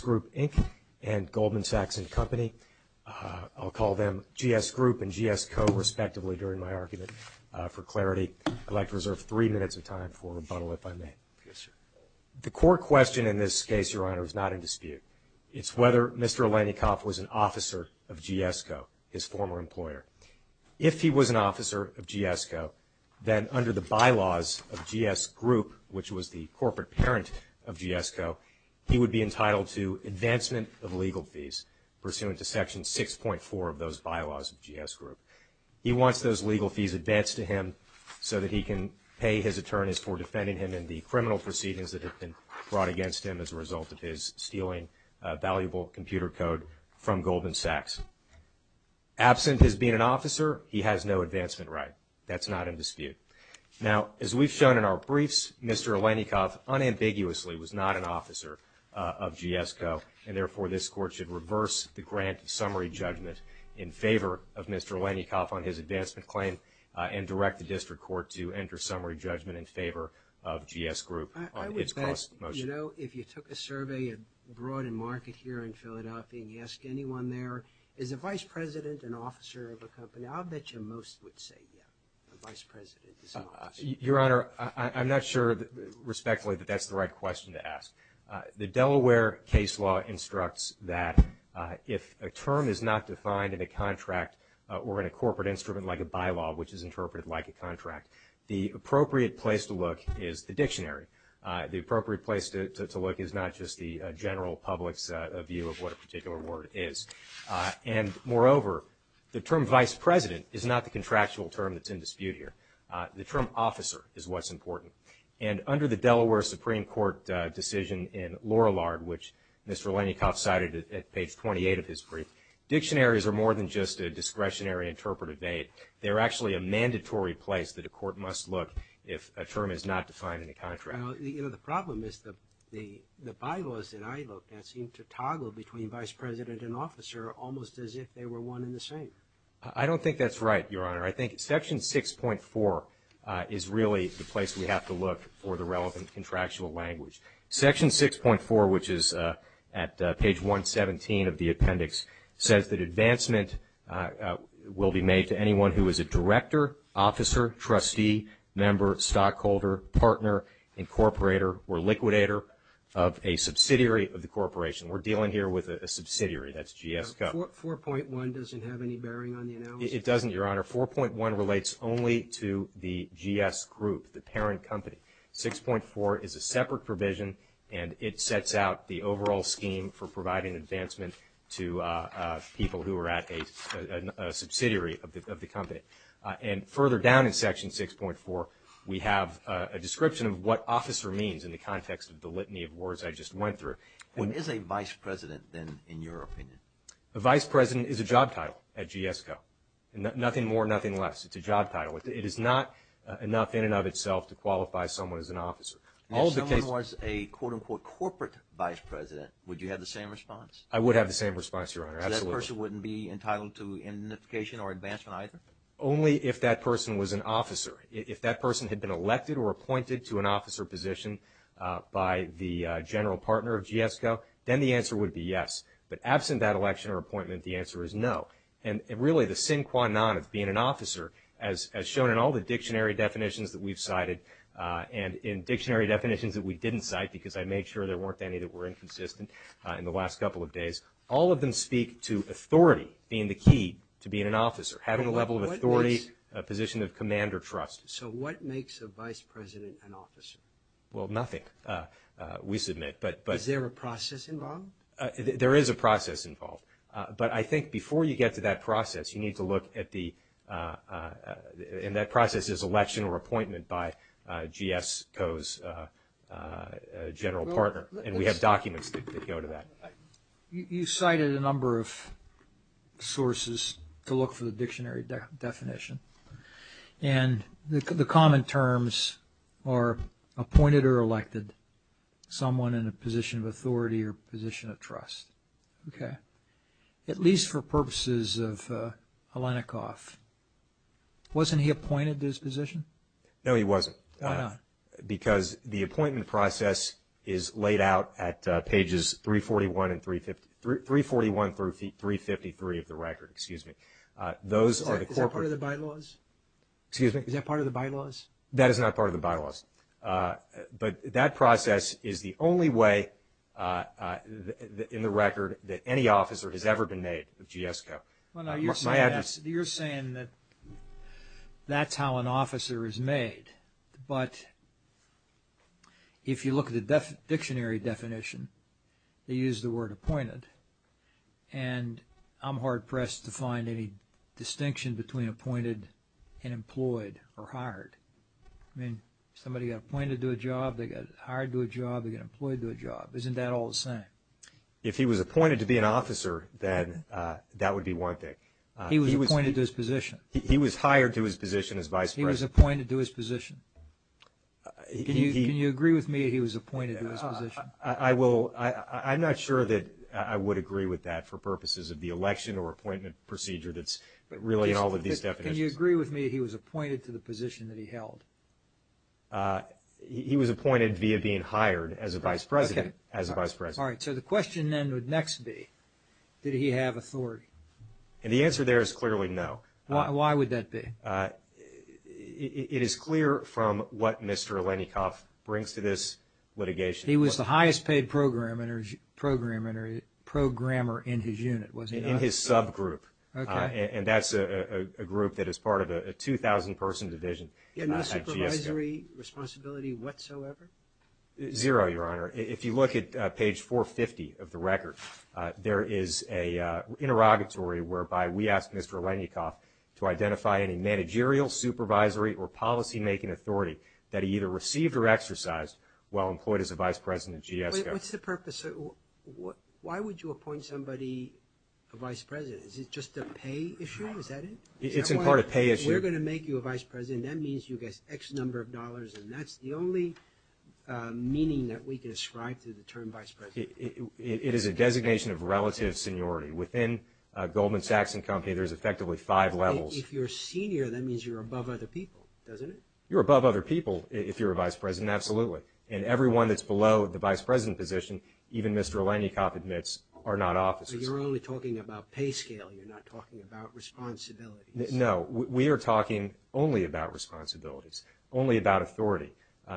Group, Inc. and Goldman Sachs & Company. I'll call them GS Group and GS Co. respectively during my argument for clarity. I'd like to reserve three minutes of time for rebuttal if I may. The core question in this case, Your Honor, is not in dispute. It's whether Mr. If he was an officer of GS Co., then under the bylaws of GS Group, which was the corporate parent of GS Co., he would be entitled to advancement of legal fees pursuant to Section 6.4 of those bylaws of GS Group. He wants those legal fees advanced to him so that he can pay his attorneys for defending him in the criminal proceedings that have been brought he has no advancement right. That's not in dispute. Now, as we've shown in our briefs, Mr. Alyenikovv unambiguously was not an officer of GS Co., and therefore this court should reverse the grant of summary judgment in favor of Mr. Alyenikovv on his advancement claim and direct the district court to enter summary judgment in favor of GS Group on its cross-motion. I would think, you know, if you took a survey abroad in market here in Philadelphia and asked anyone there, is a vice president an officer of a company, I'll bet you most would say, yeah, a vice president is an officer. Your Honor, I'm not sure respectfully that that's the right question to ask. The Delaware case law instructs that if a term is not defined in a contract or in a corporate instrument like a bylaw, which is interpreted like a contract, the appropriate place to look is the dictionary. The appropriate place to look is not just the general public's view of what a particular word is. And moreover, the term vice president is not the contractual term that's in dispute here. The term officer is what's important. And under the Delaware Supreme Court decision in Lorillard, which Mr. Alyenikovv cited at page 28 of his brief, dictionaries are more than just a discretionary interpretive aid. They're actually a mandatory place that a court must look if a term is not defined in a contract. Well, you know, the problem is the bylaws that I look at seem to toggle between vice president and officer almost as if they were one and the same. I don't think that's right, Your Honor. I think section 6.4 is really the place we have to look for the relevant contractual language. Section 6.4, which is at page 117 of the appendix, says that advancement will be made to anyone who is a director, officer, trustee, member, stockholder, partner, incorporator, or liquidator of a subsidiary of the corporation. We're dealing here with a subsidiary. That's GS Co. 4.1 doesn't have any bearing on the analysis? It doesn't, Your Honor. 4.1 relates only to the GS Group, the parent company. 6.4 is a separate provision, and it sets out the overall scheme for providing advancement to people who are at a subsidiary of the company. And further down in section 6.4, we have a description of what officer means in the context of the litany of words I just went through. When is a vice president, then, in your opinion? A vice president is a job title at GS Co. Nothing more, nothing less. It's a job title. It is not enough in and of itself to qualify someone as an officer. If someone was a, quote-unquote, corporate vice president, would you have the same response? I would have the same response, Your Honor. Absolutely. So that person wouldn't be entitled to identification or advancement either? Only if that person was an officer. If that person had been elected or appointed to an officer position by the general partner of GS Co., then the answer would be yes. But absent that election or appointment, the answer is no. And really, the sin qua non of being an officer, as shown in all the dictionary definitions that we've cited, and in dictionary definitions that we didn't cite, because I made sure there weren't any that were speak to authority being the key to being an officer, having a level of authority, a position of command or trust. So what makes a vice president an officer? Well, nothing, we submit. Is there a process involved? There is a process involved. But I think before you get to that process, you need to look at the – and that process is election or appointment by GS Co.'s general partner. And we have documents that go to that. You cited a number of sources to look for the dictionary definition. And the common terms are appointed or elected, someone in a position of authority or position of trust. Okay. At least for purposes of Alenikoff. Wasn't he appointed to this position? No, he wasn't. Why not? Because the appointment process is laid out at pages 341 and – 341 through 353 of the record, excuse me. Those are the corporate – Is that part of the bylaws? Excuse me? Is that part of the bylaws? That is not part of the bylaws. But that process is the only way in the record that any officer has ever been made of GS Co. My address – You're saying that that's how an officer is made. But if you look at the dictionary definition, they use the word appointed. And I'm hard-pressed to find any distinction between appointed and employed or hired. I mean, somebody got appointed to a job, they got hired to a job, they got employed to a job. Isn't that all the same? If he was appointed to be an officer, then that would be one thing. He was appointed to his position. He was hired to his position as vice president. He was appointed to his position. Can you agree with me he was appointed to his position? I will – I'm not sure that I would agree with that for purposes of the election or appointment procedure that's really in all of these definitions. Can you agree with me he was appointed to the position that he held? He was appointed via being hired as a vice president. Okay. As a vice president. All right. So the question then would next be, did he have authority? And the answer there is clearly no. Why would that be? It is clear from what Mr. Lenikoff brings to this litigation. He was the highest-paid programmer in his unit, was he not? In his subgroup. Okay. And that's a group that is part of a 2,000-person division at GS Co. And no supervisory responsibility whatsoever? Zero, Your Honor. If you look at page 450 of the record, there is an interrogatory whereby we ask Mr. Lenikoff to identify any managerial, supervisory, or policymaking authority that he either received or exercised while employed as a vice president at GS Co. What's the purpose? Why would you appoint somebody a vice president? Is it just a pay issue? Is that it? It's in part a pay issue. That's the only meaning that we can ascribe to the term vice president. It is a designation of relative seniority. Within Goldman Sachs & Company, there's effectively five levels. If you're senior, that means you're above other people, doesn't it? You're above other people if you're a vice president, absolutely. And everyone that's below the vice president position, even Mr. Lenikoff admits, are not officers. So you're only talking about pay scale. You're not talking about responsibilities. No. We are talking only about responsibilities, only about authority.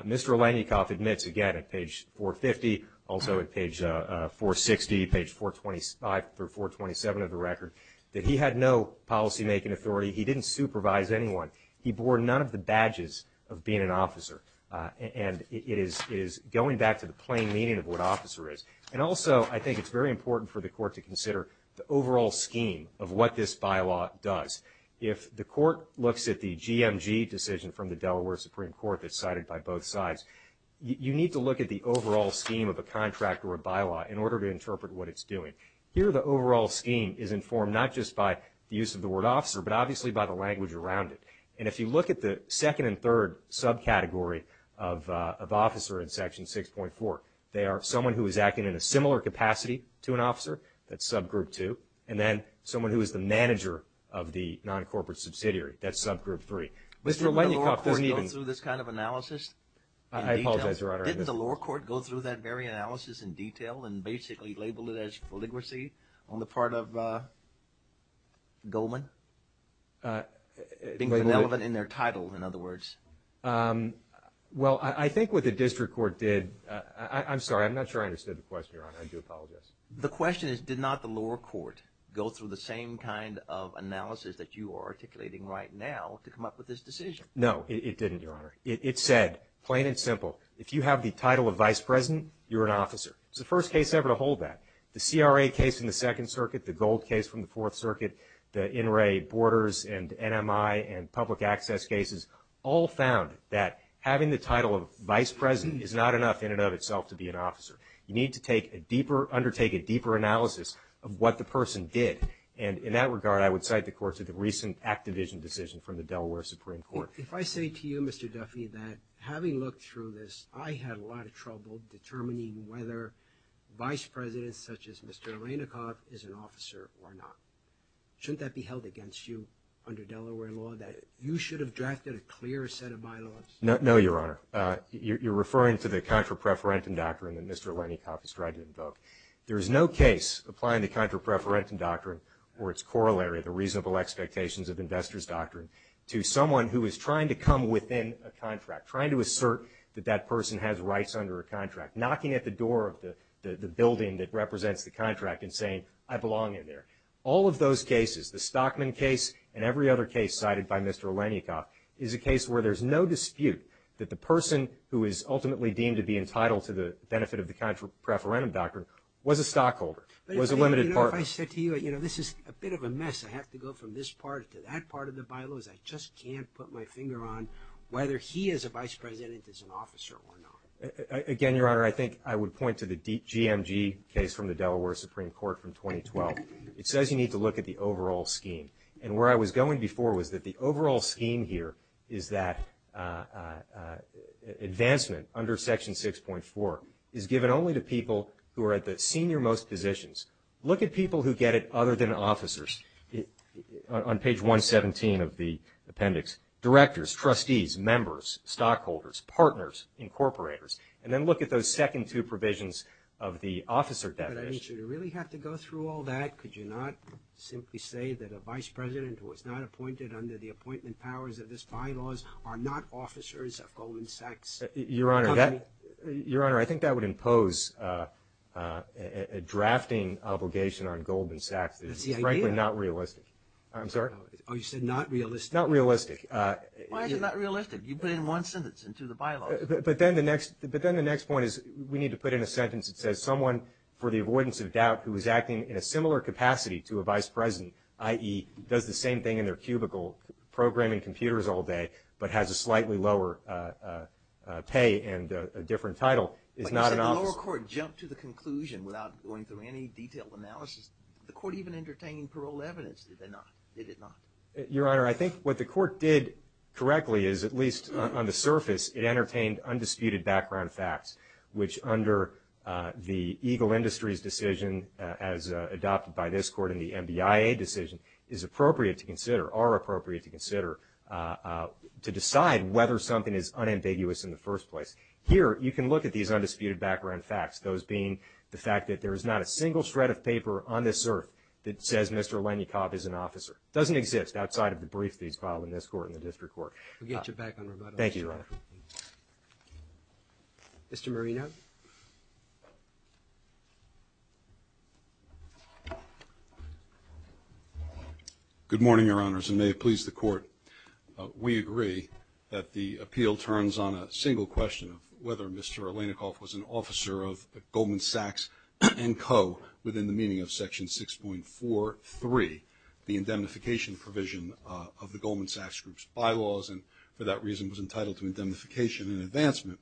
Mr. Lenikoff admits, again, at page 450, also at page 460, page 425 through 427 of the record, that he had no policymaking authority. He didn't supervise anyone. He bore none of the badges of being an officer. And it is going back to the plain meaning of what officer is. And also, I think it's very important for the court to consider the overall scheme of what this bylaw does. If the court looks at the GMG decision from the Delaware Supreme Court that's cited by both sides, you need to look at the overall scheme of a contract or a bylaw in order to interpret what it's doing. Here, the overall scheme is informed not just by the use of the word officer, but obviously by the language around it. And if you look at the second and third subcategory of officer in Section 6.4, they are someone who is acting in a similar capacity to an officer, that's subgroup two, and then someone who is the manager of the non-corporate subsidiary, that's subgroup three. Mr. Lenikoff doesn't even – Didn't the lower court go through this kind of analysis in detail? I apologize, Your Honor. Didn't the lower court go through that very analysis in detail and basically label it as filigree on the part of Goldman? Being benevolent in their title, in other words. Well, I think what the district court did – I'm sorry. I'm not sure I understood the question, Your Honor. I do apologize. The question is, did not the lower court go through the same kind of analysis that you are articulating right now to come up with this decision? No, it didn't, Your Honor. It said, plain and simple, if you have the title of vice president, you're an officer. It's the first case ever to hold that. The CRA case in the Second Circuit, the Gold case from the Fourth Circuit, the In re Borders and NMI and public access cases all found that having the title of vice president is not enough in and of itself to be an officer. You need to undertake a deeper analysis of what the person did. And in that regard, I would cite the course of the recent Act Division decision from the Delaware Supreme Court. If I say to you, Mr. Duffy, that having looked through this, I had a lot of trouble determining whether vice presidents, such as Mr. Aranikoff, is an officer or not, shouldn't that be held against you under Delaware law that you should have drafted a clear set of bylaws? No, Your Honor. You're referring to the contra preferentum doctrine that Mr. Aranikoff has tried to invoke. There is no case applying the contra preferentum doctrine or its corollary, the reasonable expectations of investors doctrine, to someone who is trying to come within a contract, trying to assert that that person has rights under a contract, knocking at the door of the building that represents the contract and saying, I belong in there. All of those cases, the Stockman case and every other case cited by Mr. Aranikoff, is a case where there's no dispute that the person who is ultimately deemed to be entitled to the benefit of the contra preferentum doctrine was a stockholder, was a limited partner. You know, if I said to you, you know, this is a bit of a mess. I have to go from this part to that part of the bylaws. I just can't put my finger on whether he is a vice president is an officer or not. Again, Your Honor, I think I would point to the DMG case from the Delaware Supreme Court from 2012. It says you need to look at the overall scheme. And where I was going before was that the overall scheme here is that advancement under Section 6.4 is given only to people who are at the senior-most positions. Look at people who get it other than officers. On page 117 of the appendix, directors, trustees, members, stockholders, partners, incorporators, and then look at those second two provisions of the officer definition. But I mean, should we really have to go through all that? Could you not simply say that a vice president who was not appointed under the appointment powers of this bylaws are not officers of Goldman Sachs? Your Honor, I think that would impose a drafting obligation on Goldman Sachs. That's the idea. It's frankly not realistic. I'm sorry? Oh, you said not realistic. Not realistic. Why is it not realistic? You put in one sentence into the bylaws. But then the next point is we need to put in a sentence that says someone for the avoidance of doubt who is acting in a similar capacity to a vice president, i.e., does the same thing in their cubicle, programming computers all day, but has a slightly lower pay and a different title, is not an officer. But you said the lower court jumped to the conclusion without going through any detailed analysis. Did the court even entertain paroled evidence? Did they not? Did it not? Your Honor, I think what the court did correctly is, at least on the surface, it entertained undisputed background facts, which under the Eagle Industries decision, as adopted by this court in the NBIA decision, is appropriate to consider, are appropriate to consider to decide whether something is unambiguous in the first place. Here, you can look at these undisputed background facts, those being the fact that there is not a single shred of paper on this earth that says Mr. Lenikov is an officer. It doesn't exist outside of the brief that he's filed in this court and the district court. We'll get you back on that. Thank you, Your Honor. Mr. Marino. Good morning, Your Honors, and may it please the court. We agree that the appeal turns on a single question of whether Mr. Lenikov was an officer of Goldman Sachs and Co. within the meaning of Section 6.43, the indemnification provision of the Goldman Sachs Group's bylaws, and for that reason was entitled to indemnification and advancement.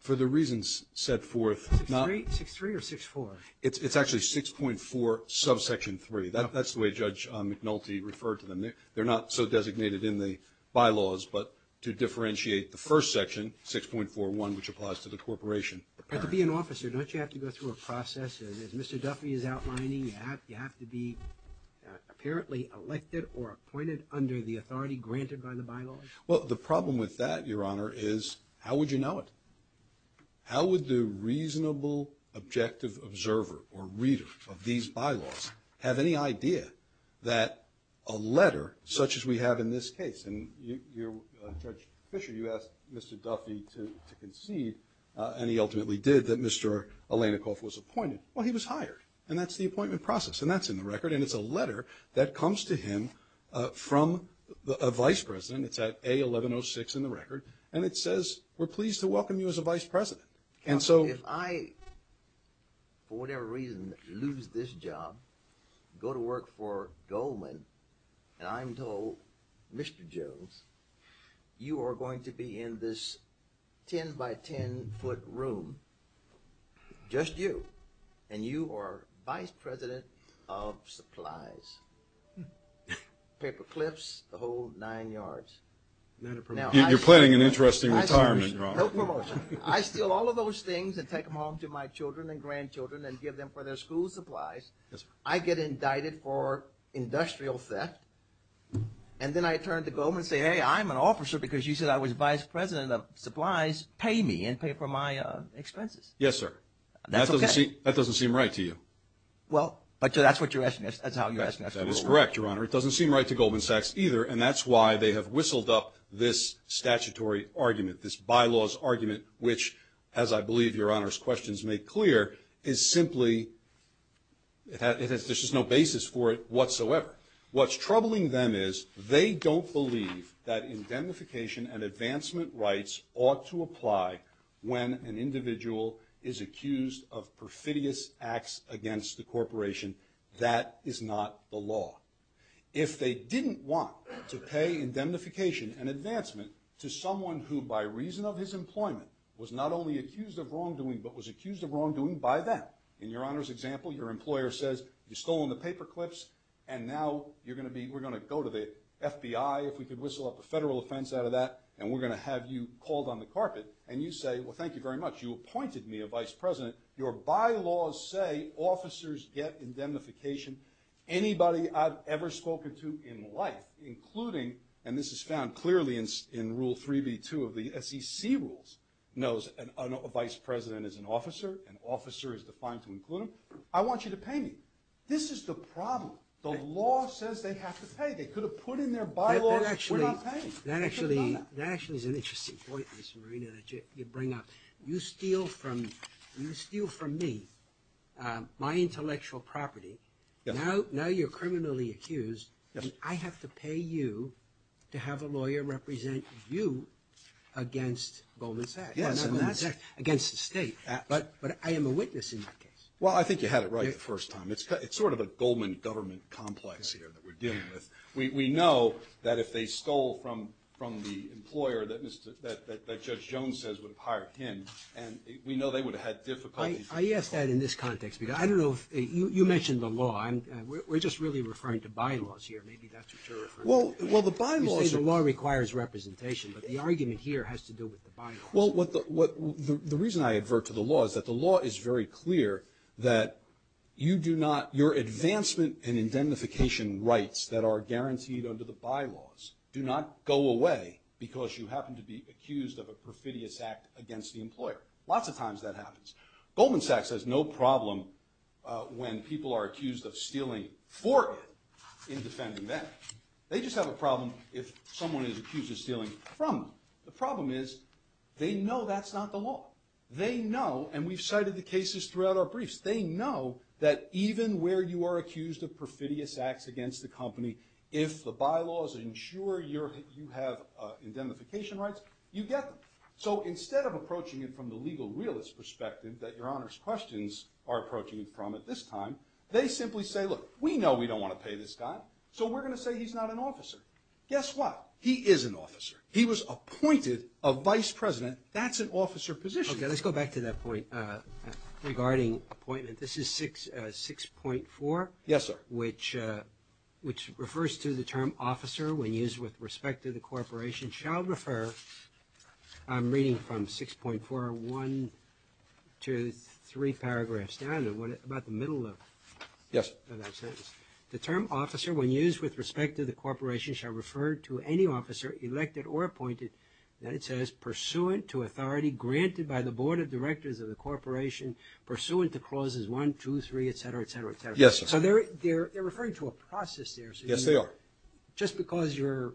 For the reasons set forth, not – 6.3 or 6.4? It's actually 6.4 subsection 3. That's the way Judge McNulty referred to them. They're not so designated in the bylaws, but to differentiate the first section, 6.41, which applies to the corporation. To be an officer, don't you have to go through a process, as Mr. Duffy is outlining? You have to be apparently elected or appointed under the authority granted by the bylaws? Well, the problem with that, Your Honor, is how would you know it? How would the reasonable, objective observer or reader of these bylaws have any idea that a letter, such as we have in this case, and Judge Fischer, you asked Mr. Duffy to concede, and he ultimately did, that Mr. Lenikov was appointed. Well, he was hired, and that's the appointment process, and that's in the record, and it's a letter that comes to him from a vice president. It's at A1106 in the record, and it says, we're pleased to welcome you as a vice president. Counsel, if I, for whatever reason, lose this job, go to work for Goldman, and I'm told, Mr. Jones, you are going to be in this 10-by-10-foot room, just you, and you are vice president of supplies, paperclips, the whole nine yards. You're planning an interesting retirement, Your Honor. I steal all of those things and take them home to my children and grandchildren and give them for their school supplies. Yes, sir. I get indicted for industrial theft, and then I turn to Goldman and say, hey, I'm an officer because you said I was vice president of supplies. Pay me and pay for my expenses. Yes, sir. That's okay. That doesn't seem right to you. Well, but that's what you're asking. That's how you're asking. That is correct, Your Honor. It doesn't seem right to Goldman Sachs either, and that's why they have whistled up this statutory argument, this bylaws argument, which, as I believe Your Honor's questions make clear, is simply there's just no basis for it whatsoever. What's troubling them is they don't believe that indemnification and advancement rights ought to apply when an individual is accused of perfidious acts against the corporation. That is not the law. If they didn't want to pay indemnification and advancement to someone who, by reason of his employment, was not only accused of wrongdoing but was accused of wrongdoing by them. In Your Honor's example, your employer says you've stolen the paper clips and now we're going to go to the FBI if we could whistle up a federal offense out of that and we're going to have you called on the carpet and you say, well, thank you very much. You appointed me a vice president. Your bylaws say officers get indemnification. Anybody I've ever spoken to in life, including, and this is found clearly in Rule 3B2 of the SEC rules, knows a vice president is an officer. An officer is defined to include them. I want you to pay me. This is the problem. The law says they have to pay. They could have put in their bylaws, we're not paying. That actually is an interesting point, Mr. Marina, that you bring up. You steal from me my intellectual property. Now you're criminally accused. I have to pay you to have a lawyer represent you against Goldman Sachs. That's against the state. But I am a witness in that case. Well, I think you had it right the first time. It's sort of a Goldman government complex here that we're dealing with. We know that if they stole from the employer that Judge Jones says would have hired him, we know they would have had difficulties. I ask that in this context because I don't know if you mentioned the law. We're just really referring to bylaws here. Maybe that's what you're referring to. Well, the bylaws. You say the law requires representation, but the argument here has to do with the bylaws. Well, the reason I advert to the law is that the law is very clear that you do not, your advancement and indemnification rights that are guaranteed under the bylaws do not go away because you happen to be accused of a perfidious act against the employer. Lots of times that happens. Goldman Sachs has no problem when people are accused of stealing for it in defending them. They just have a problem if someone is accused of stealing from them. The problem is they know that's not the law. They know, and we've cited the cases throughout our briefs, they know that even where you are accused of perfidious acts against the company, if the bylaws ensure you have indemnification rights, you get them. So instead of approaching it from the legal realist perspective that Your Honor's questions are approaching it from at this time, they simply say, look, we know we don't want to pay this guy, so we're going to say he's not an officer. Guess what? He is an officer. He was appointed a vice president. That's an officer position. Okay, let's go back to that point regarding appointment. This is 6.4. Yes, sir. Which refers to the term officer when used with respect to the corporation, shall refer, I'm reading from 6.4, one, two, three paragraphs down, about the middle of that sentence. The term officer when used with respect to the corporation shall refer to any officer elected or appointed that it says, pursuant to authority granted by the board of directors of the corporation, pursuant to clauses one, two, three, et cetera, et cetera, et cetera. Yes, sir. So they're referring to a process there. Yes, they are. Just because you're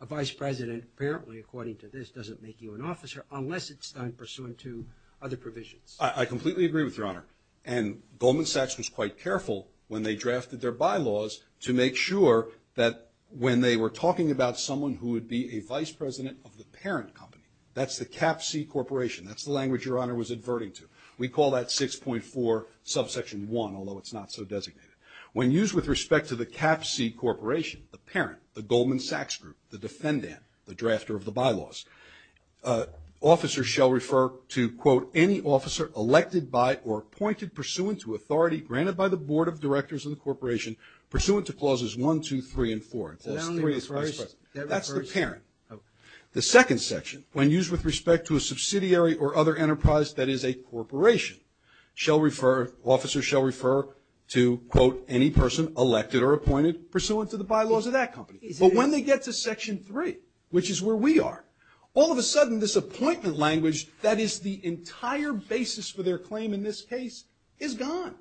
a vice president, apparently, according to this, doesn't make you an officer unless it's done pursuant to other provisions. I completely agree with Your Honor. And Goldman Sachs was quite careful when they drafted their bylaws to make sure that when they were talking about someone who would be a vice president of the parent company, that's the cap C corporation. That's the language Your Honor was adverting to. We call that 6.4 subsection one, although it's not so designated. When used with respect to the cap C corporation, the parent, the Goldman Sachs group, the defendant, the drafter of the bylaws, officers shall refer to, quote, any officer elected by or appointed pursuant to authority granted by the board of directors of the corporation, pursuant to clauses one, two, three, and four. That's the parent. The second section, when used with respect to a subsidiary or other enterprise that is a corporation, shall refer, officers shall refer to, quote, any person elected or appointed pursuant to the bylaws of that company. But when they get to section three, which is where we are, all of a sudden this appointment language, that is the entire basis for their claim in this case, is gone.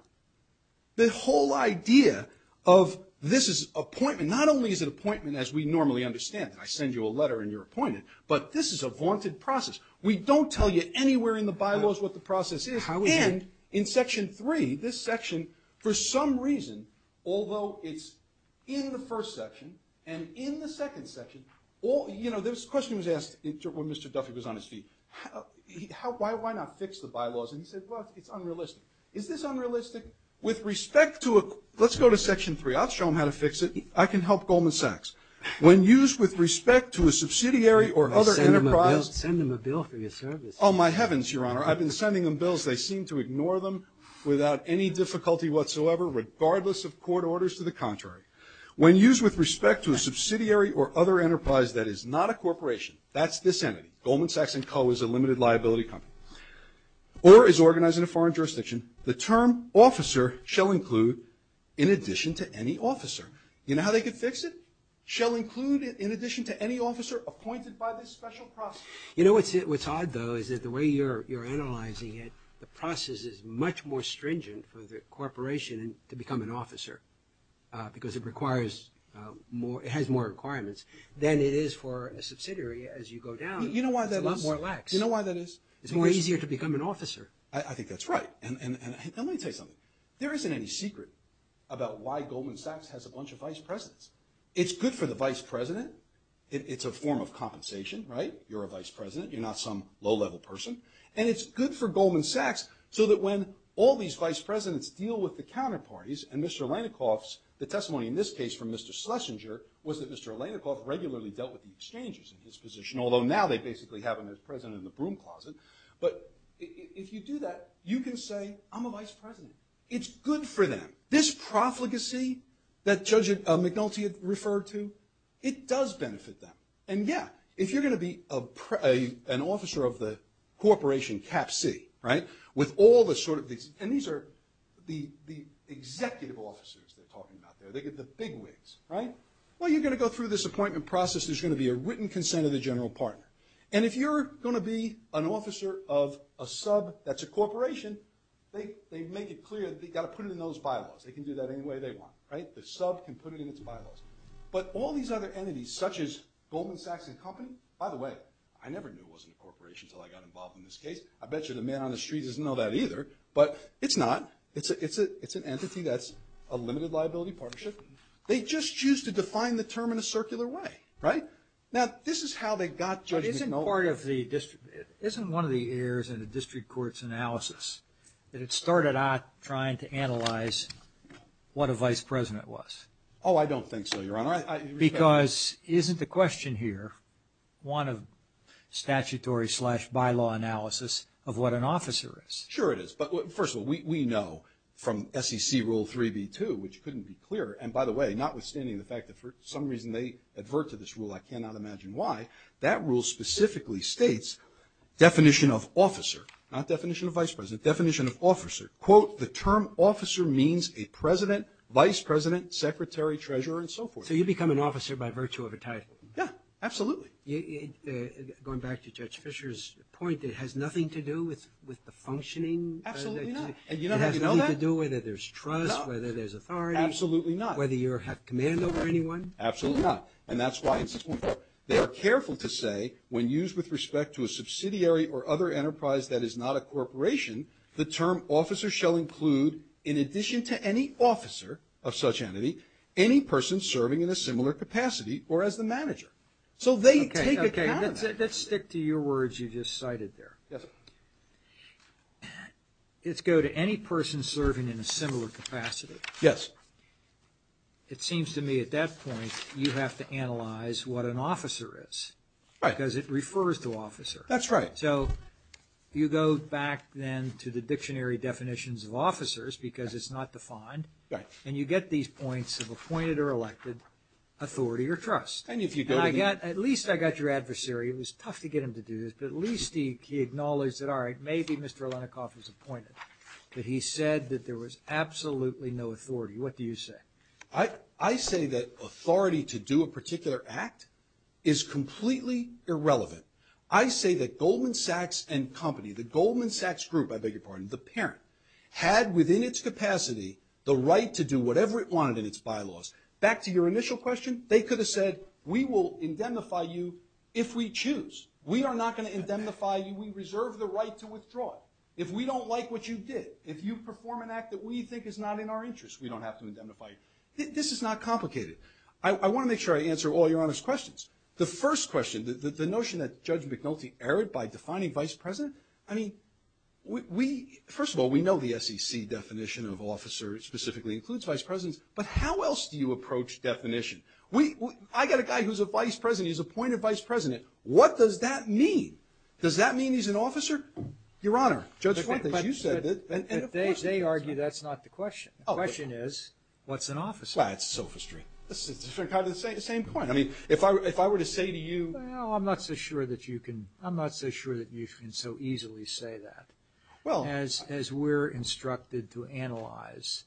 The whole idea of this is appointment, not only is it appointment as we normally understand it, I send you a letter and you're appointed, but this is a vaunted process. We don't tell you anywhere in the bylaws what the process is. And in section three, this section, for some reason, although it's in the first section and in the second section, you know, this question was asked when Mr. Duffy was on his feet, why not fix the bylaws? And he said, well, it's unrealistic. Is this unrealistic? With respect to a, let's go to section three. I'll show them how to fix it. I can help Goldman Sachs. When used with respect to a subsidiary or other enterprise, You don't send them a bill for your service. Oh, my heavens, Your Honor. I've been sending them bills. They seem to ignore them without any difficulty whatsoever, regardless of court orders. To the contrary. When used with respect to a subsidiary or other enterprise that is not a corporation, that's this entity, Goldman Sachs & Co. is a limited liability company, or is organized in a foreign jurisdiction, the term officer shall include in addition to any officer. You know how they could fix it? shall include in addition to any officer appointed by this special process. You know what's odd, though, is that the way you're analyzing it, the process is much more stringent for the corporation to become an officer because it has more requirements than it is for a subsidiary. As you go down, it's a lot more lax. You know why that is? It's more easier to become an officer. I think that's right. And let me tell you something. There isn't any secret about why Goldman Sachs has a bunch of vice presidents. It's good for the vice president. It's a form of compensation, right? You're a vice president. You're not some low-level person. And it's good for Goldman Sachs so that when all these vice presidents deal with the counterparties, and Mr. Alenikoff's, the testimony in this case from Mr. Schlesinger, was that Mr. Alenikoff regularly dealt with the exchanges in his position, although now they basically have him as president in the broom closet. But if you do that, you can say, I'm a vice president. It's good for them. This profligacy that Judge McNulty had referred to, it does benefit them. And, yeah, if you're going to be an officer of the corporation Cap C, right, with all the sort of these – and these are the executive officers they're talking about there. They get the big wigs, right? Well, you're going to go through this appointment process. There's going to be a written consent of the general partner. And if you're going to be an officer of a sub that's a corporation, they make it clear that they've got to put it in those bylaws. They can do that any way they want, right? The sub can put it in its bylaws. But all these other entities, such as Goldman Sachs and company – by the way, I never knew it wasn't a corporation until I got involved in this case. I bet you the man on the street doesn't know that either. But it's not. It's an entity that's a limited liability partnership. They just choose to define the term in a circular way, right? Now, this is how they got Judge McNulty. But isn't part of the – isn't one of the errors in a district court's analysis that it started out trying to analyze what a vice president was? Oh, I don't think so, Your Honor. Because isn't the question here one of statutory-slash-bylaw analysis of what an officer is? Sure it is. But, first of all, we know from SEC Rule 3b-2, which couldn't be clearer – and, by the way, notwithstanding the fact that for some reason they advert to this rule, I cannot imagine why – that rule specifically states definition of officer – not definition of vice president – definition of officer, quote, the term officer means a president, vice president, secretary, treasurer, and so forth. So you become an officer by virtue of a title? Yeah, absolutely. Going back to Judge Fischer's point, it has nothing to do with the functioning? Absolutely not. And you don't have to know that? It has nothing to do whether there's trust, whether there's authority? Absolutely not. Whether you have command over anyone? Absolutely not. And that's why it's important. They are careful to say, when used with respect to a subsidiary or other enterprise that is not a corporation, the term officer shall include, in addition to any officer of such entity, any person serving in a similar capacity or as the manager. So they take account of that. Okay, okay. Let's stick to your words you just cited there. Yes, sir. Let's go to any person serving in a similar capacity. Yes. It seems to me, at that point, you have to analyze what an officer is. Right. Because it refers to officer. That's right. So you go back, then, to the dictionary definitions of officers, because it's not defined. Right. And you get these points of appointed or elected, authority or trust. And if you go to the – At least I got your adversary. It was tough to get him to do this. But at least he acknowledged that, all right, maybe Mr. What do you say? I say that authority to do a particular act is completely irrelevant. I say that Goldman Sachs and company, the Goldman Sachs group, I beg your pardon, the parent, had within its capacity the right to do whatever it wanted in its bylaws. Back to your initial question, they could have said, we will indemnify you if we choose. We are not going to indemnify you. We reserve the right to withdraw it. If we don't like what you did, if you perform an act that we think is not in our interest, we don't have to indemnify you. This is not complicated. I want to make sure I answer all your Honor's questions. The first question, the notion that Judge McNulty erred by defining vice president, I mean, we – first of all, we know the SEC definition of officer specifically includes vice presidents, but how else do you approach definition? I got a guy who's a vice president. He's appointed vice president. What does that mean? Does that mean he's an officer? Your Honor. But they argue that's not the question. The question is, what's an officer? That's sophistry. It's kind of the same point. I mean, if I were to say to you – Well, I'm not so sure that you can – I'm not so sure that you can so easily say that. Well – As we're instructed to analyze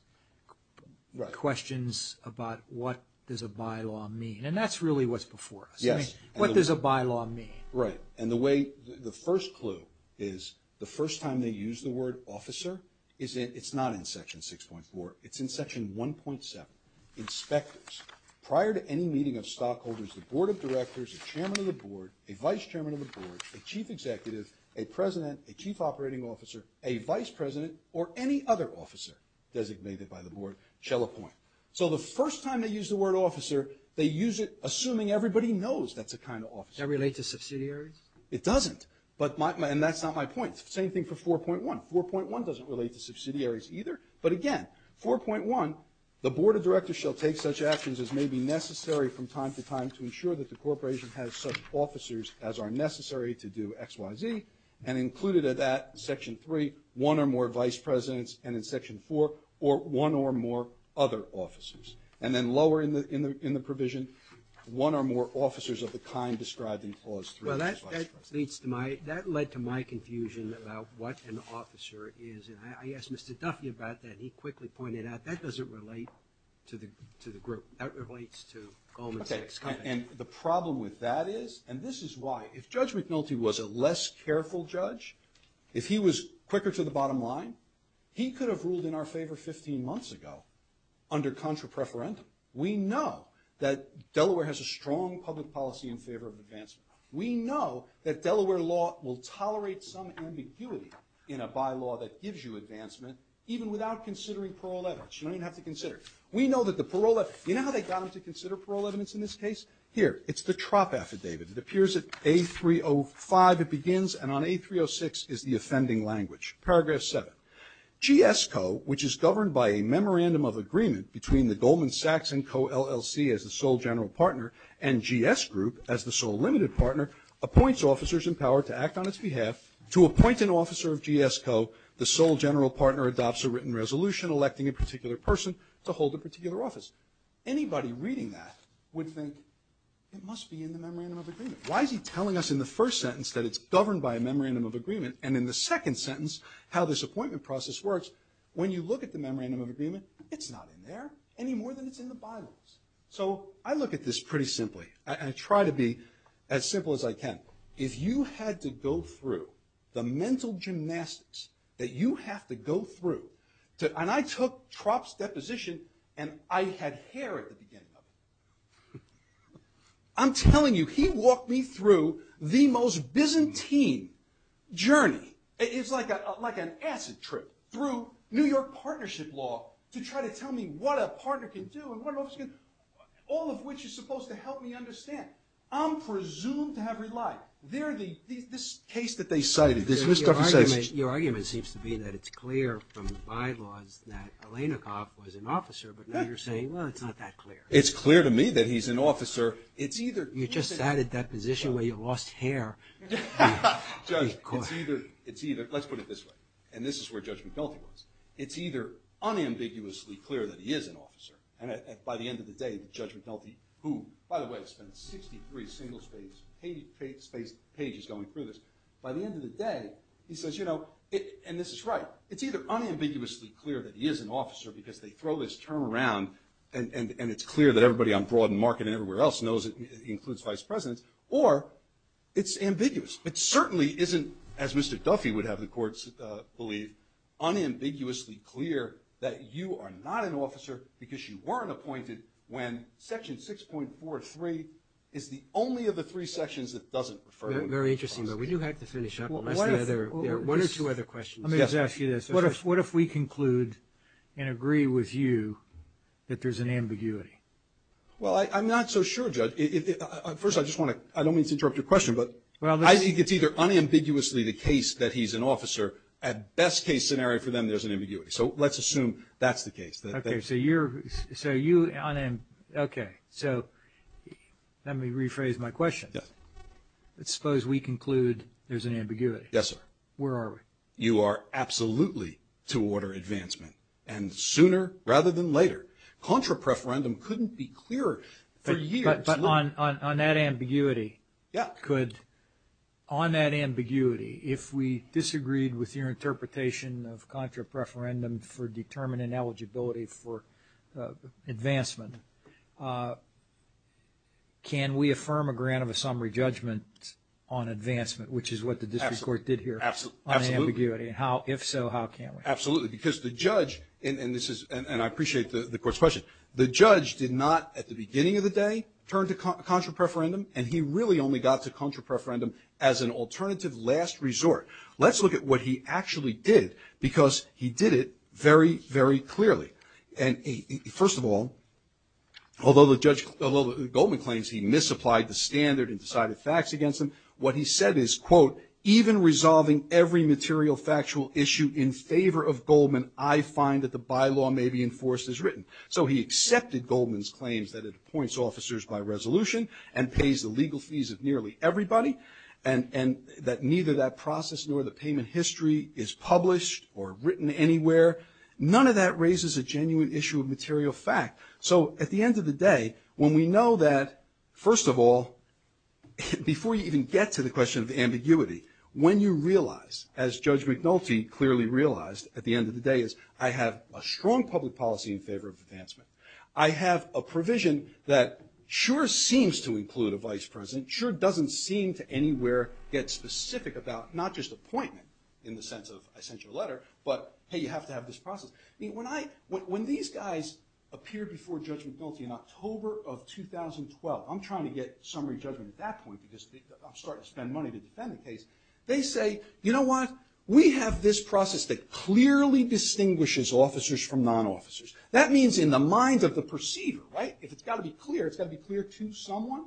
questions about what does a bylaw mean, and that's really what's before us. Yes. What does a bylaw mean? Right. And the way – the first clue is the first time they use the word officer is that it's not in Section 6.4. It's in Section 1.7. Inspectors. Prior to any meeting of stockholders, the board of directors, a chairman of the board, a vice chairman of the board, a chief executive, a president, a chief operating officer, a vice president, or any other officer designated by the board shall appoint. So the first time they use the word officer, they use it assuming everybody knows that's the kind of officer. Does that relate to subsidiaries? It doesn't. And that's not my point. Same thing for 4.1. 4.1 doesn't relate to subsidiaries either. But again, 4.1, the board of directors shall take such actions as may be necessary from time to time to ensure that the corporation has such officers as are necessary to do X, Y, Z. And included in that, Section 3, one or more vice presidents, and in Section 4, one or more other officers. And then lower in the provision, one or more officers of the kind described in Clause 3. Well, that leads to my, that led to my confusion about what an officer is. And I asked Mr. Duffy about that. He quickly pointed out that doesn't relate to the group. That relates to Goldman Sachs. Okay. And the problem with that is, and this is why, if Judge McNulty was a less careful judge, if he was quicker to the bottom line, he could have ruled in our favor 15 months ago under contra preferentum. We know that Delaware has a strong public policy in favor of advancement. We know that Delaware law will tolerate some ambiguity in a bylaw that gives you advancement even without considering parole evidence. You don't even have to consider it. We know that the parole, you know how they got them to consider parole evidence in this case? Here. It's the TROP affidavit. It appears at A305 it begins, and on A306 is the offending language. Paragraph 7. GSCO, which is governed by a memorandum of agreement between the Goldman Sachs and Co. LLC as the sole general partner and GS Group as the sole limited partner, appoints officers in power to act on its behalf. To appoint an officer of GSCO, the sole general partner adopts a written resolution electing a particular person to hold a particular office. Anybody reading that would think it must be in the memorandum of agreement. Why is he telling us in the first sentence that it's governed by a memorandum of agreement and in the second sentence how this appointment process works? Because when you look at the memorandum of agreement, it's not in there any more than it's in the Bibles. So I look at this pretty simply. I try to be as simple as I can. If you had to go through the mental gymnastics that you have to go through, and I took TROP's deposition, and I had hair at the beginning of it. I'm telling you, he walked me through the most Byzantine journey. It's like an acid trip through New York partnership law to try to tell me what a partner can do and what an officer can do, all of which is supposed to help me understand. I'm presumed to have relied. This case that they cited... Your argument seems to be that it's clear from the bylaws that Elenakov was an officer, but now you're saying, well, it's not that clear. It's clear to me that he's an officer. You just sat at that position where you lost hair. Let's put it this way, and this is where Judge McNulty was. It's either unambiguously clear that he is an officer, and by the end of the day, Judge McNulty, who, by the way, spent 63 single-spaced pages going through this, by the end of the day, he says, you know, and this is right, it's either unambiguously clear that he is an officer because they throw this term around and it's clear that everybody on broad and market and everywhere else knows it includes vice presidents, or it's ambiguous. It certainly isn't, as Mr. Duffy would have the courts believe, unambiguously clear that you are not an officer because you weren't appointed when Section 6.43 is the only of the three sections that doesn't refer... Very interesting, but we do have to finish up. One or two other questions. Let me just ask you this. What if we conclude and agree with you that there's an ambiguity? Well, I'm not so sure, Judge. First, I don't mean to interrupt your question, but I think it's either unambiguously the case that he's an officer. At best-case scenario for them, there's an ambiguity. So let's assume that's the case. Okay, so you're... Okay, so let me rephrase my question. Yes. Let's suppose we conclude there's an ambiguity. Yes, sir. Where are we? You are absolutely to order advancement, and sooner rather than later. Contra preferendum couldn't be clearer for years. But on that ambiguity... Yeah. On that ambiguity, if we disagreed with your interpretation of contra preferendum for determining eligibility for advancement, can we affirm a grant of a summary judgment on advancement, which is what the district court did here on ambiguity? Absolutely. If so, how can we? Absolutely. Because the judge, and I appreciate the court's question, the judge did not, at the beginning of the day, turn to contra preferendum, and he really only got to contra preferendum as an alternative last resort. Let's look at what he actually did, because he did it very, very clearly. And first of all, although the judge, although Goldman claims he misapplied the standard and decided facts against him, what he said is, quote, even resolving every material factual issue in favor of Goldman, I find that the bylaw may be enforced as written. So he accepted Goldman's claims that it appoints officers by resolution and pays the legal fees of nearly everybody, and that neither that process nor the payment history is published or written anywhere. None of that raises a genuine issue of material fact. So at the end of the day, when we know that, first of all, before you even get to the question of ambiguity, when you realize, as Judge McNulty clearly realized at the end of the day, I have a strong public policy in favor of advancement. I have a provision that sure seems to include a vice president, sure doesn't seem to anywhere get specific about not just appointment, in the sense of I sent you a letter, but, hey, you have to have this process. When these guys appeared before Judge McNulty in October of 2012, I'm trying to get summary judgment at that point, because I'm starting to spend money to defend the case, they say, you know what, we have this process that clearly distinguishes officers from non-officers. That means in the mind of the perceiver, right? If it's got to be clear, it's got to be clear to someone.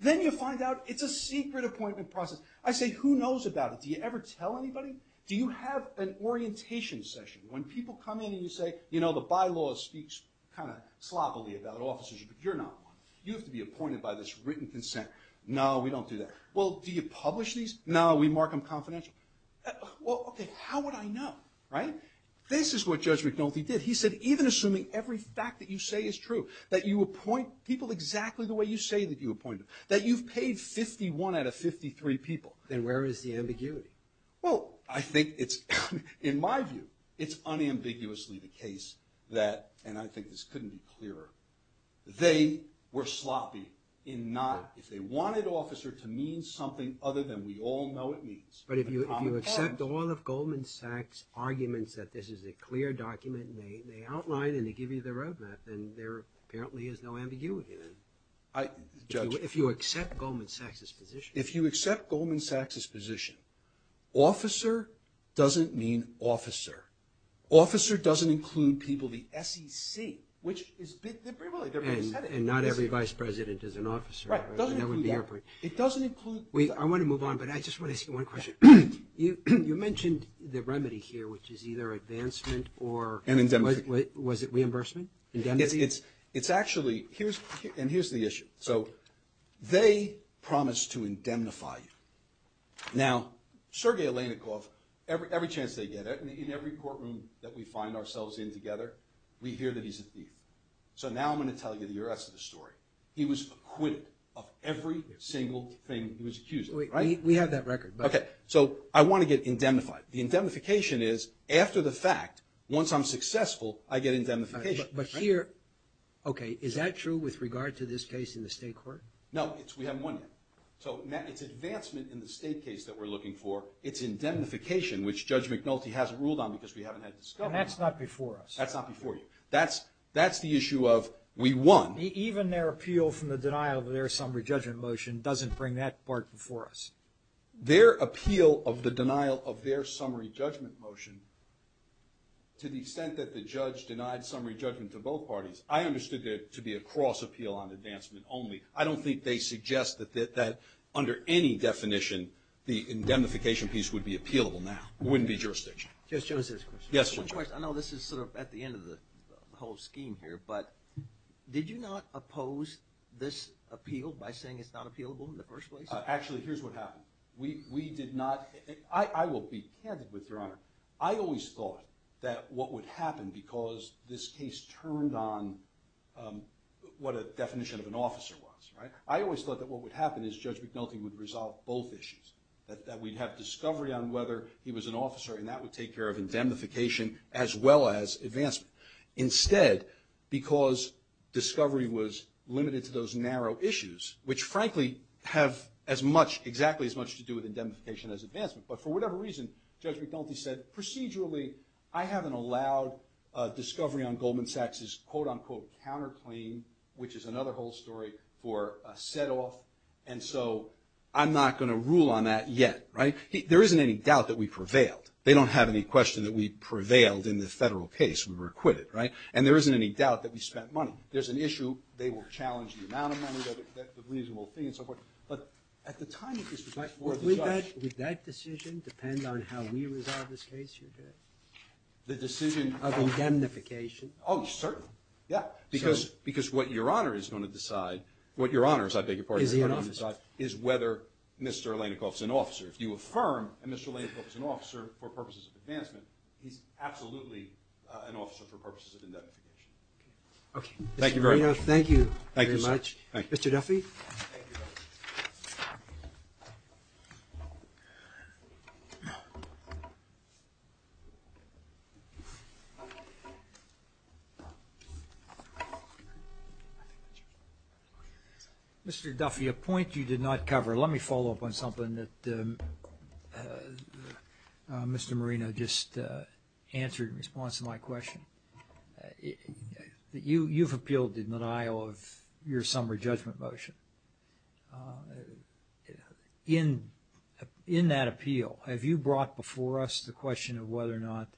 Then you find out it's a secret appointment process. I say, who knows about it? Do you ever tell anybody? Do you have an orientation session? When people come in and you say, you know, the bylaw speaks kind of sloppily about officers, but you're not one. You have to be appointed by this written consent. No, we don't do that. Well, do you publish these? No, we mark them confidential. Well, okay, how would I know, right? This is what Judge McNulty did. He said, even assuming every fact that you say is true, that you appoint people exactly the way you say that you appointed them, that you've paid 51 out of 53 people. Then where is the ambiguity? Well, I think it's, in my view, it's unambiguously the case that, and I think this couldn't be clearer, they were sloppy in not, if they wanted officer to mean something other than we all know it means. But if you accept all of Goldman Sachs' arguments that this is a clear document, and they outline and they give you the road map, then there apparently is no ambiguity then. If you accept Goldman Sachs' position. If you accept Goldman Sachs' position, officer doesn't mean officer. Officer doesn't include people, the SEC, which is, they've already said it. And not every vice president is an officer. Right, it doesn't include that. That would be your point. It doesn't include... Wait, I want to move on, but I just want to ask you one question. You mentioned the remedy here, which is either advancement or... And indemnity. Was it reimbursement? Indemnity? It's actually, and here's the issue. So they promise to indemnify you. Now, Sergey Alenikov, every chance they get, in every courtroom that we find ourselves in together, we hear that he's a thief. So now I'm going to tell you the rest of the story. He was acquitted of every single thing he was accused of, right? We have that record. Okay, so I want to get indemnified. The indemnification is, after the fact, once I'm successful, I get indemnification. But here, okay, is that true with regard to this case in the state court? No, we haven't won yet. So it's advancement in the state case that we're looking for. It's indemnification, which Judge McNulty hasn't ruled on because we haven't had discussions. And that's not before us. That's not before you. That's the issue of we won. Even their appeal from the denial of their summary judgment motion doesn't bring that part before us. Their appeal of the denial of their summary judgment motion, to the extent that the judge denied summary judgment to both parties, I understood it to be a cross appeal on advancement only. I don't think they suggest that under any definition, the indemnification piece would be appealable now. It wouldn't be jurisdiction. Judge Joseph's question. I know this is sort of at the end of the whole scheme here, but did you not oppose this appeal by saying it's not appealable in the first place? Actually, here's what happened. We did not – I will be candid with Your Honor. I always thought that what would happen, because this case turned on what a definition of an officer was, right? I always thought that what would happen is Judge McNulty would resolve both issues, that we'd have discovery on whether he was an officer, and that would take care of indemnification as well as advancement. Instead, because discovery was limited to those narrow issues, which frankly have exactly as much to do with indemnification as advancement, but for whatever reason, Judge McNulty said, procedurally I haven't allowed discovery on Goldman Sachs' quote, unquote, counterclaim, which is another whole story, for a set off, and so I'm not going to rule on that yet, right? There isn't any doubt that we prevailed. They don't have any question that we prevailed in the federal case. We were acquitted, right? And there isn't any doubt that we spent money. There's an issue they will challenge the amount of money. That's a reasonable thing and so forth. But at the time of this, we might – Would that decision depend on how we resolve this case, Your Honor? The decision – Of indemnification. Oh, certainly. Yeah. what Your Honor, as I beg your pardon, is going to decide – Is he an officer? is whether Mr. Alenikoff is an officer. If you affirm that Mr. Alenikoff is an officer for purposes of advancement, he's absolutely an officer for purposes of indemnification. Okay. Thank you very much. Thank you very much. Mr. Duffy? Thank you. Thank you. Mr. Duffy, a point you did not cover. Let me follow up on something that Mr. Marino just answered in response to my question. You've appealed the denial of your summary judgment motion. In that appeal, have you brought before us the question of whether or not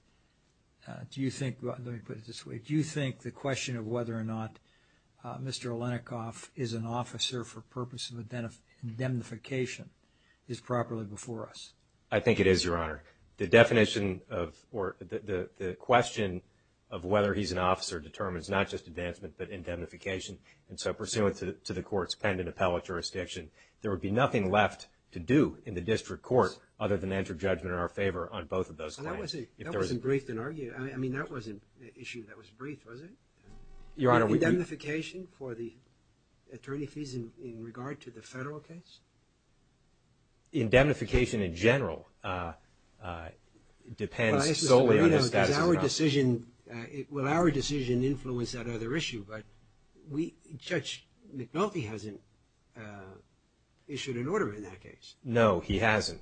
– Do you think – let me put it this way. Do you think the question of whether or not Mr. Alenikoff is an officer for purpose of indemnification is properly before us? I think it is, Your Honor. The definition of – or the question of whether he's an officer determines not just advancement but indemnification. And so pursuant to the court's pending appellate jurisdiction, there would be nothing left to do in the district court other than enter judgment in our favor on both of those claims. That wasn't briefed and argued. I mean, that wasn't an issue that was briefed, was it? Your Honor, we – Indemnification for the attorney fees in regard to the federal case? Indemnification in general depends solely on his status as an officer. Will our decision influence that other issue? But Judge McNulty hasn't issued an order in that case. No, he hasn't.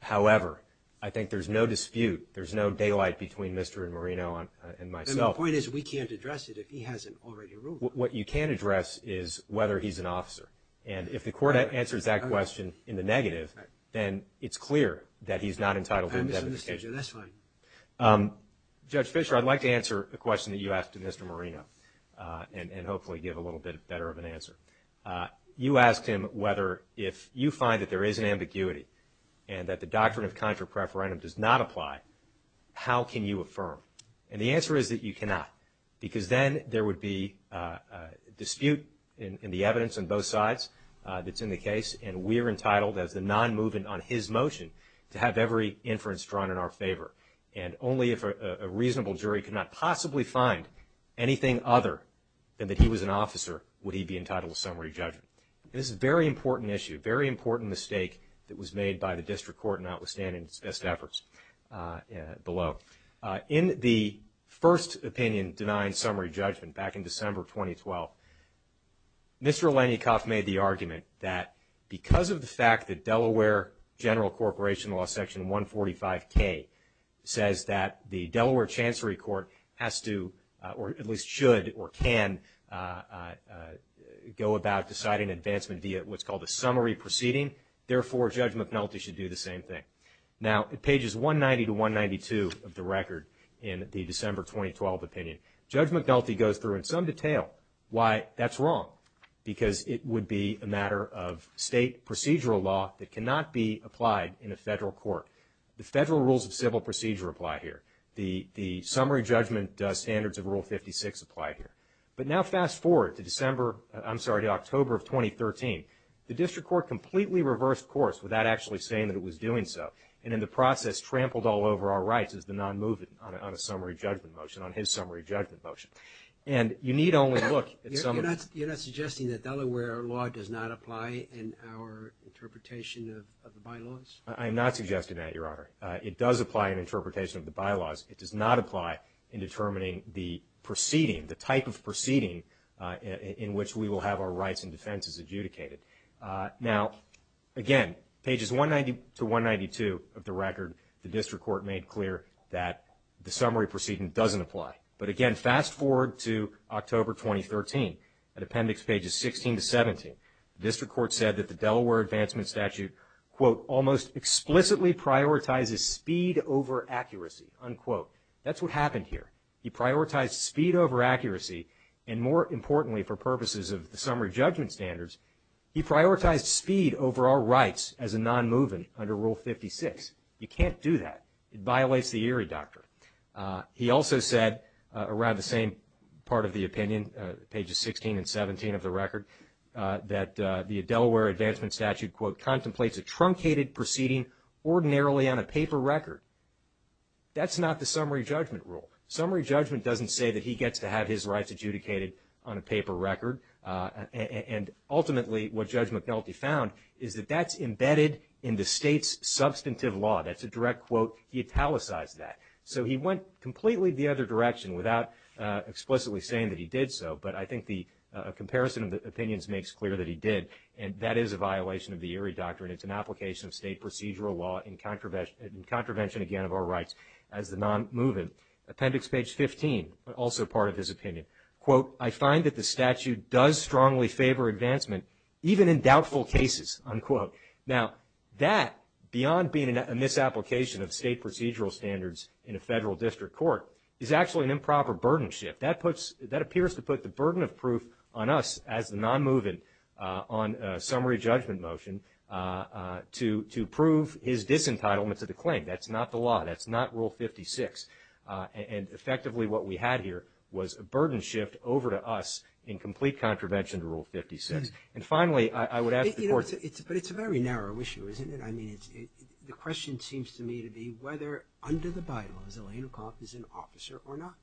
However, I think there's no dispute, there's no daylight between Mr. Marino and myself. The point is we can't address it if he hasn't already ruled. What you can address is whether he's an officer. And if the court answers that question in the negative, then it's clear that he's not entitled to indemnification. That's fine. Judge Fischer, I'd like to answer a question that you asked to Mr. Marino and hopefully give a little bit better of an answer. You asked him whether if you find that there is an ambiguity and that the doctrine of contra-preferendum does not apply, how can you affirm? And the answer is that you cannot, because then there would be a dispute in the evidence on both sides that's in the case, and we're entitled as the non-movement on his motion to have every inference drawn in our favor. And only if a reasonable jury could not possibly find anything other than that he was an officer would he be entitled to summary judgment. This is a very important issue, a very important mistake that was made by the district court notwithstanding its best efforts below. In the first opinion denying summary judgment back in December 2012, Mr. Leniakoff made the argument that because of the fact that Delaware General Corporation Law Section 145K says that the Delaware Chancery Court has to, or at least should or can, go about deciding advancement via what's called a summary proceeding, therefore Judge McNulty should do the same thing. Now, pages 190 to 192 of the record in the December 2012 opinion, Judge McNulty goes through in some detail why that's wrong, because it would be a matter of state procedural law that cannot be applied in a federal court. The federal rules of civil procedure apply here. The summary judgment standards of Rule 56 apply here. But now fast forward to October of 2013. The district court completely reversed course without actually saying that it was doing so, and in the process trampled all over our rights as the non-movement on a summary judgment motion, on his summary judgment motion. And you need only look at some of the... You're not suggesting that Delaware law does not apply in our interpretation of the bylaws? I am not suggesting that, Your Honor. It does apply in interpretation of the bylaws. It does not apply in determining the proceeding, the type of proceeding in which we will have our rights and defenses adjudicated. Now, again, pages 190 to 192 of the record, the district court made clear that the summary proceeding doesn't apply. But, again, fast forward to October 2013. At appendix pages 16 to 17, the district court said that the Delaware Advancement Statute, quote, almost explicitly prioritizes speed over accuracy, unquote. That's what happened here. He prioritized speed over accuracy, and more importantly for purposes of the summary judgment standards, he prioritized speed over our rights as a non-movement under Rule 56. You can't do that. It violates the Erie Doctrine. He also said, around the same part of the opinion, pages 16 and 17 of the record, that the Delaware Advancement Statute, quote, contemplates a truncated proceeding ordinarily on a paper record. That's not the summary judgment rule. Summary judgment doesn't say that he gets to have his rights adjudicated on a paper record. And ultimately what Judge McNulty found is that that's embedded in the state's substantive law. That's a direct quote. He italicized that. So he went completely the other direction without explicitly saying that he did so. But I think the comparison of the opinions makes clear that he did, and that is a violation of the Erie Doctrine. It's an application of state procedural law in contravention, again, of our rights as a non-movement. Appendix page 15, also part of his opinion, quote, I find that the statute does strongly favor advancement, even in doubtful cases, unquote. Now, that, beyond being a misapplication of state procedural standards in a federal district court, is actually an improper burden shift. That appears to put the burden of proof on us as the non-movement on summary judgment motion to prove his disentitlement to the claim. That's not the law. That's not Rule 56. And, effectively, what we had here was a burden shift over to us in complete contravention to Rule 56. And, finally, I would ask the court to – But it's a very narrow issue, isn't it? I mean, the question seems to me to be whether under the bylaws, Elena Koff is an officer or not.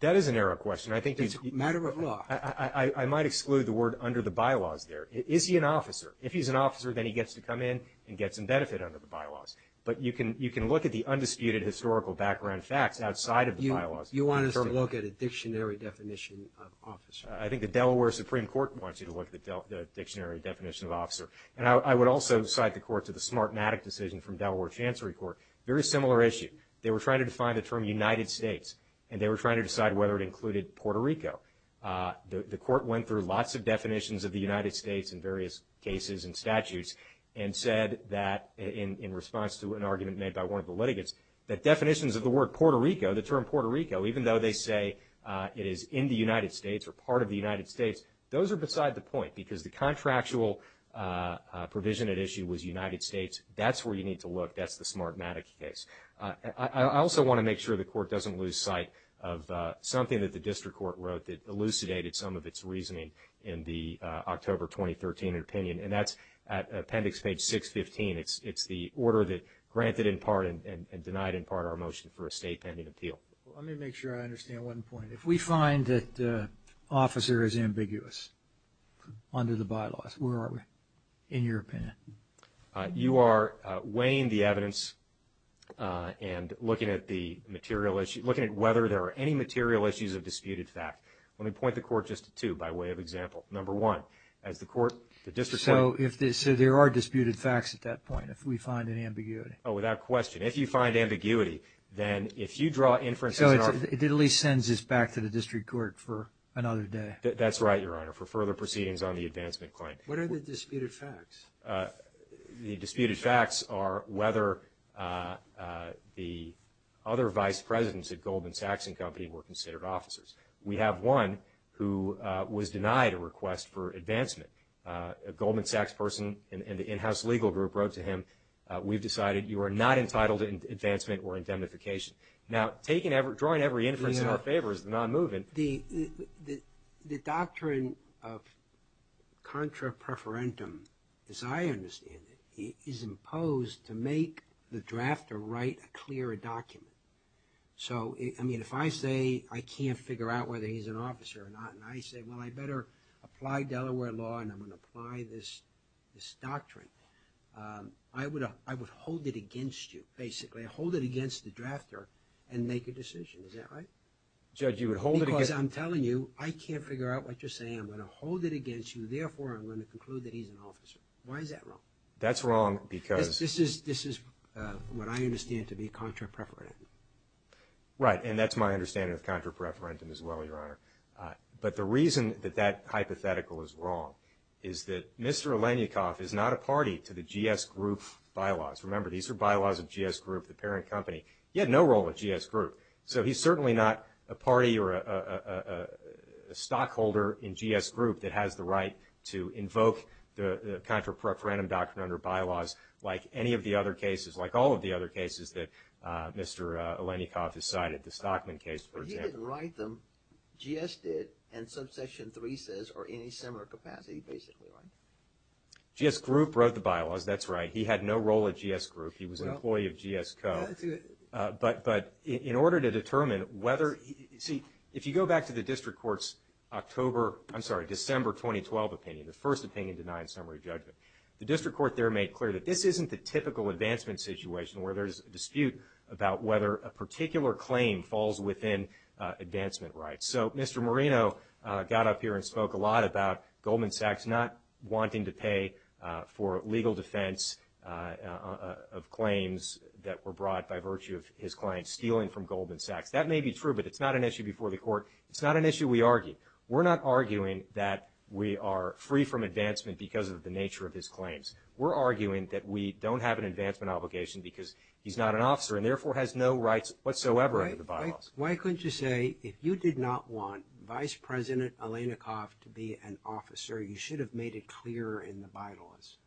That is a narrow question. I think – It's a matter of law. I might exclude the word under the bylaws there. Is he an officer? If he's an officer, then he gets to come in and get some benefit under the bylaws. But you can look at the undisputed historical background facts outside of the bylaws. You want us to look at a dictionary definition of officer? I think the Delaware Supreme Court wants you to look at the dictionary definition of officer. And I would also cite the court to the Smartmatic decision from Delaware Chancery Court. Very similar issue. They were trying to define the term United States, and they were trying to decide whether it included Puerto Rico. The court went through lots of definitions of the United States in various cases and statutes and said that in response to an argument made by one of the litigants, that definitions of the word Puerto Rico, the term Puerto Rico, even though they say it is in the United States or part of the United States, those are beside the point because the contractual provision at issue was United States. That's where you need to look. That's the Smartmatic case. I also want to make sure the court doesn't lose sight of something that the district court wrote that elucidated some of its reasoning in the October 2013 opinion. And that's at appendix page 615. It's the order that granted in part and denied in part our motion for a state pending appeal. Let me make sure I understand one point. If we find that officer is ambiguous under the bylaws, where are we in your opinion? You are weighing the evidence and looking at the material issue, looking at whether there are any material issues of disputed fact. Let me point the court just to two by way of example. Number one, as the court, the district court. So there are disputed facts at that point if we find an ambiguity. Oh, without question. If you find ambiguity, then if you draw inferences. So it at least sends us back to the district court for another day. That's right, Your Honor, for further proceedings on the advancement claim. What are the disputed facts? The disputed facts are whether the other vice presidents at Goldman Sachs and company were considered officers. We have one who was denied a request for advancement. A Goldman Sachs person in the in-house legal group wrote to him, we've decided you are not entitled to advancement or indemnification. Now, drawing every inference in our favor is the non-movement. The doctrine of contra preferentum, as I understand it, is imposed to make the drafter write a clearer document. So, I mean, if I say I can't figure out whether he's an officer or not, and I say, well, I better apply Delaware law and I'm going to apply this doctrine, I would hold it against you, basically. I would hold it against the drafter and make a decision. Is that right? Because I'm telling you I can't figure out what you're saying. I'm going to hold it against you. Therefore, I'm going to conclude that he's an officer. Why is that wrong? That's wrong because. This is what I understand to be contra preferentum. Right, and that's my understanding of contra preferentum as well, Your Honor. But the reason that that hypothetical is wrong is that Mr. Alenikoff is not a party to the GS Group bylaws. Remember, these are bylaws of GS Group, the parent company. He had no role at GS Group. So he's certainly not a party or a stockholder in GS Group that has the right to invoke the contra preferentum doctrine under bylaws like any of the other cases, like all of the other cases that Mr. Alenikoff has cited, the Stockman case, for example. But he didn't write them. GS did and subsection 3 says are in a similar capacity, basically. GS Group wrote the bylaws. That's right. He had no role at GS Group. He was an employee of GS Co. But in order to determine whether. See, if you go back to the district court's October, I'm sorry, December 2012 opinion, the first opinion denying summary judgment. The district court there made clear that this isn't the typical advancement situation where there's a dispute about whether a particular claim falls within advancement rights. So Mr. Marino got up here and spoke a lot about Goldman Sachs not wanting to pay for legal defense of claims that were brought by virtue of his client stealing from Goldman Sachs. That may be true, but it's not an issue before the court. It's not an issue we argue. We're not arguing that we are free from advancement because of the nature of his claims. We're arguing that we don't have an advancement obligation because he's not an officer and therefore has no rights whatsoever under the bylaws. Why couldn't you say if you did not want Vice President Alenikoff to be an officer, you should have made it clear in the bylaws?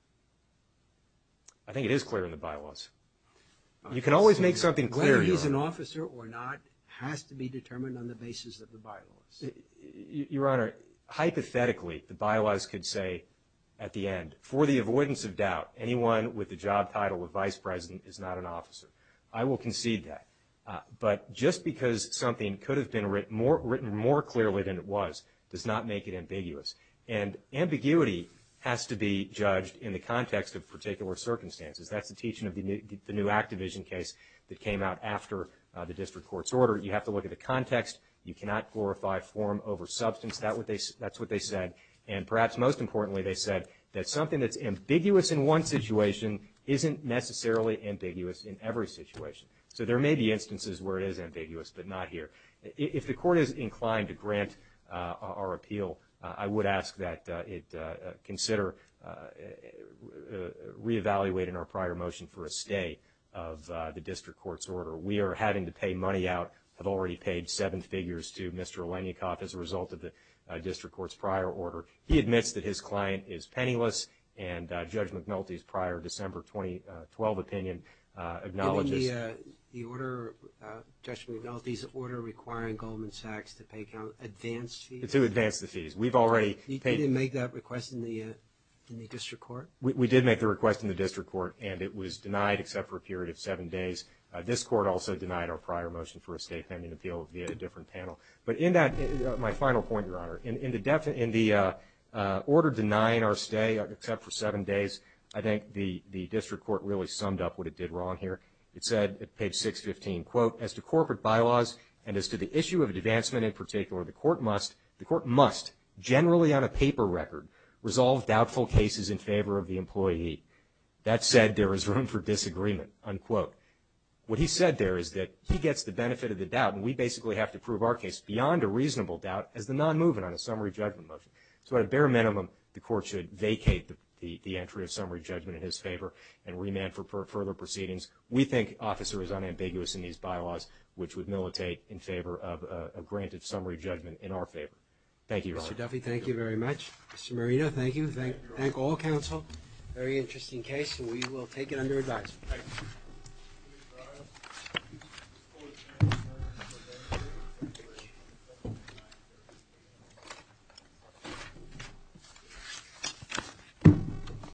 I think it is clear in the bylaws. You can always make something clear. Whether he's an officer or not has to be determined on the basis of the bylaws. Your Honor, hypothetically, the bylaws could say at the end, for the avoidance of doubt, anyone with the job title of Vice President is not an officer. I will concede that. But just because something could have been written more clearly than it was does not make it ambiguous. And ambiguity has to be judged in the context of particular circumstances. That's the teaching of the new Activision case that came out after the district court's order. You have to look at the context. You cannot glorify form over substance. That's what they said. And perhaps most importantly, they said that something that's ambiguous in one situation isn't necessarily ambiguous in every situation. So there may be instances where it is ambiguous but not here. If the court is inclined to grant our appeal, I would ask that it consider re-evaluating our prior motion for a stay of the district court's order. We are having to pay money out, have already paid seven figures to Mr. Leniakoff as a result of the district court's prior order. He admits that his client is penniless, and Judge McNulty's prior December 2012 opinion acknowledges. The order, Judge McNulty's order requiring Goldman Sachs to pay advance fees? To advance the fees. We've already paid. You didn't make that request in the district court? We did make the request in the district court, and it was denied except for a period of seven days. This court also denied our prior motion for a stay pending appeal via a different panel. But in that, my final point, Your Honor, in the order denying our stay except for seven days, I think the district court really summed up what it did wrong here. It said at page 615, quote, as to corporate bylaws and as to the issue of advancement in particular, the court must, generally on a paper record, resolve doubtful cases in favor of the employee. That said, there is room for disagreement, unquote. What he said there is that he gets the benefit of the doubt, and we basically have to prove our case beyond a reasonable doubt as the non-movement on a summary judgment motion. So at a bare minimum, the court should vacate the entry of summary judgment in his favor and remand for further proceedings. We think Officer is unambiguous in these bylaws, which would militate in favor of a granted summary judgment in our favor. Thank you, Your Honor. Mr. Duffy, thank you very much. Mr. Marino, thank you. Thank all counsel. Very interesting case, and we will take it under advisement. Thank you.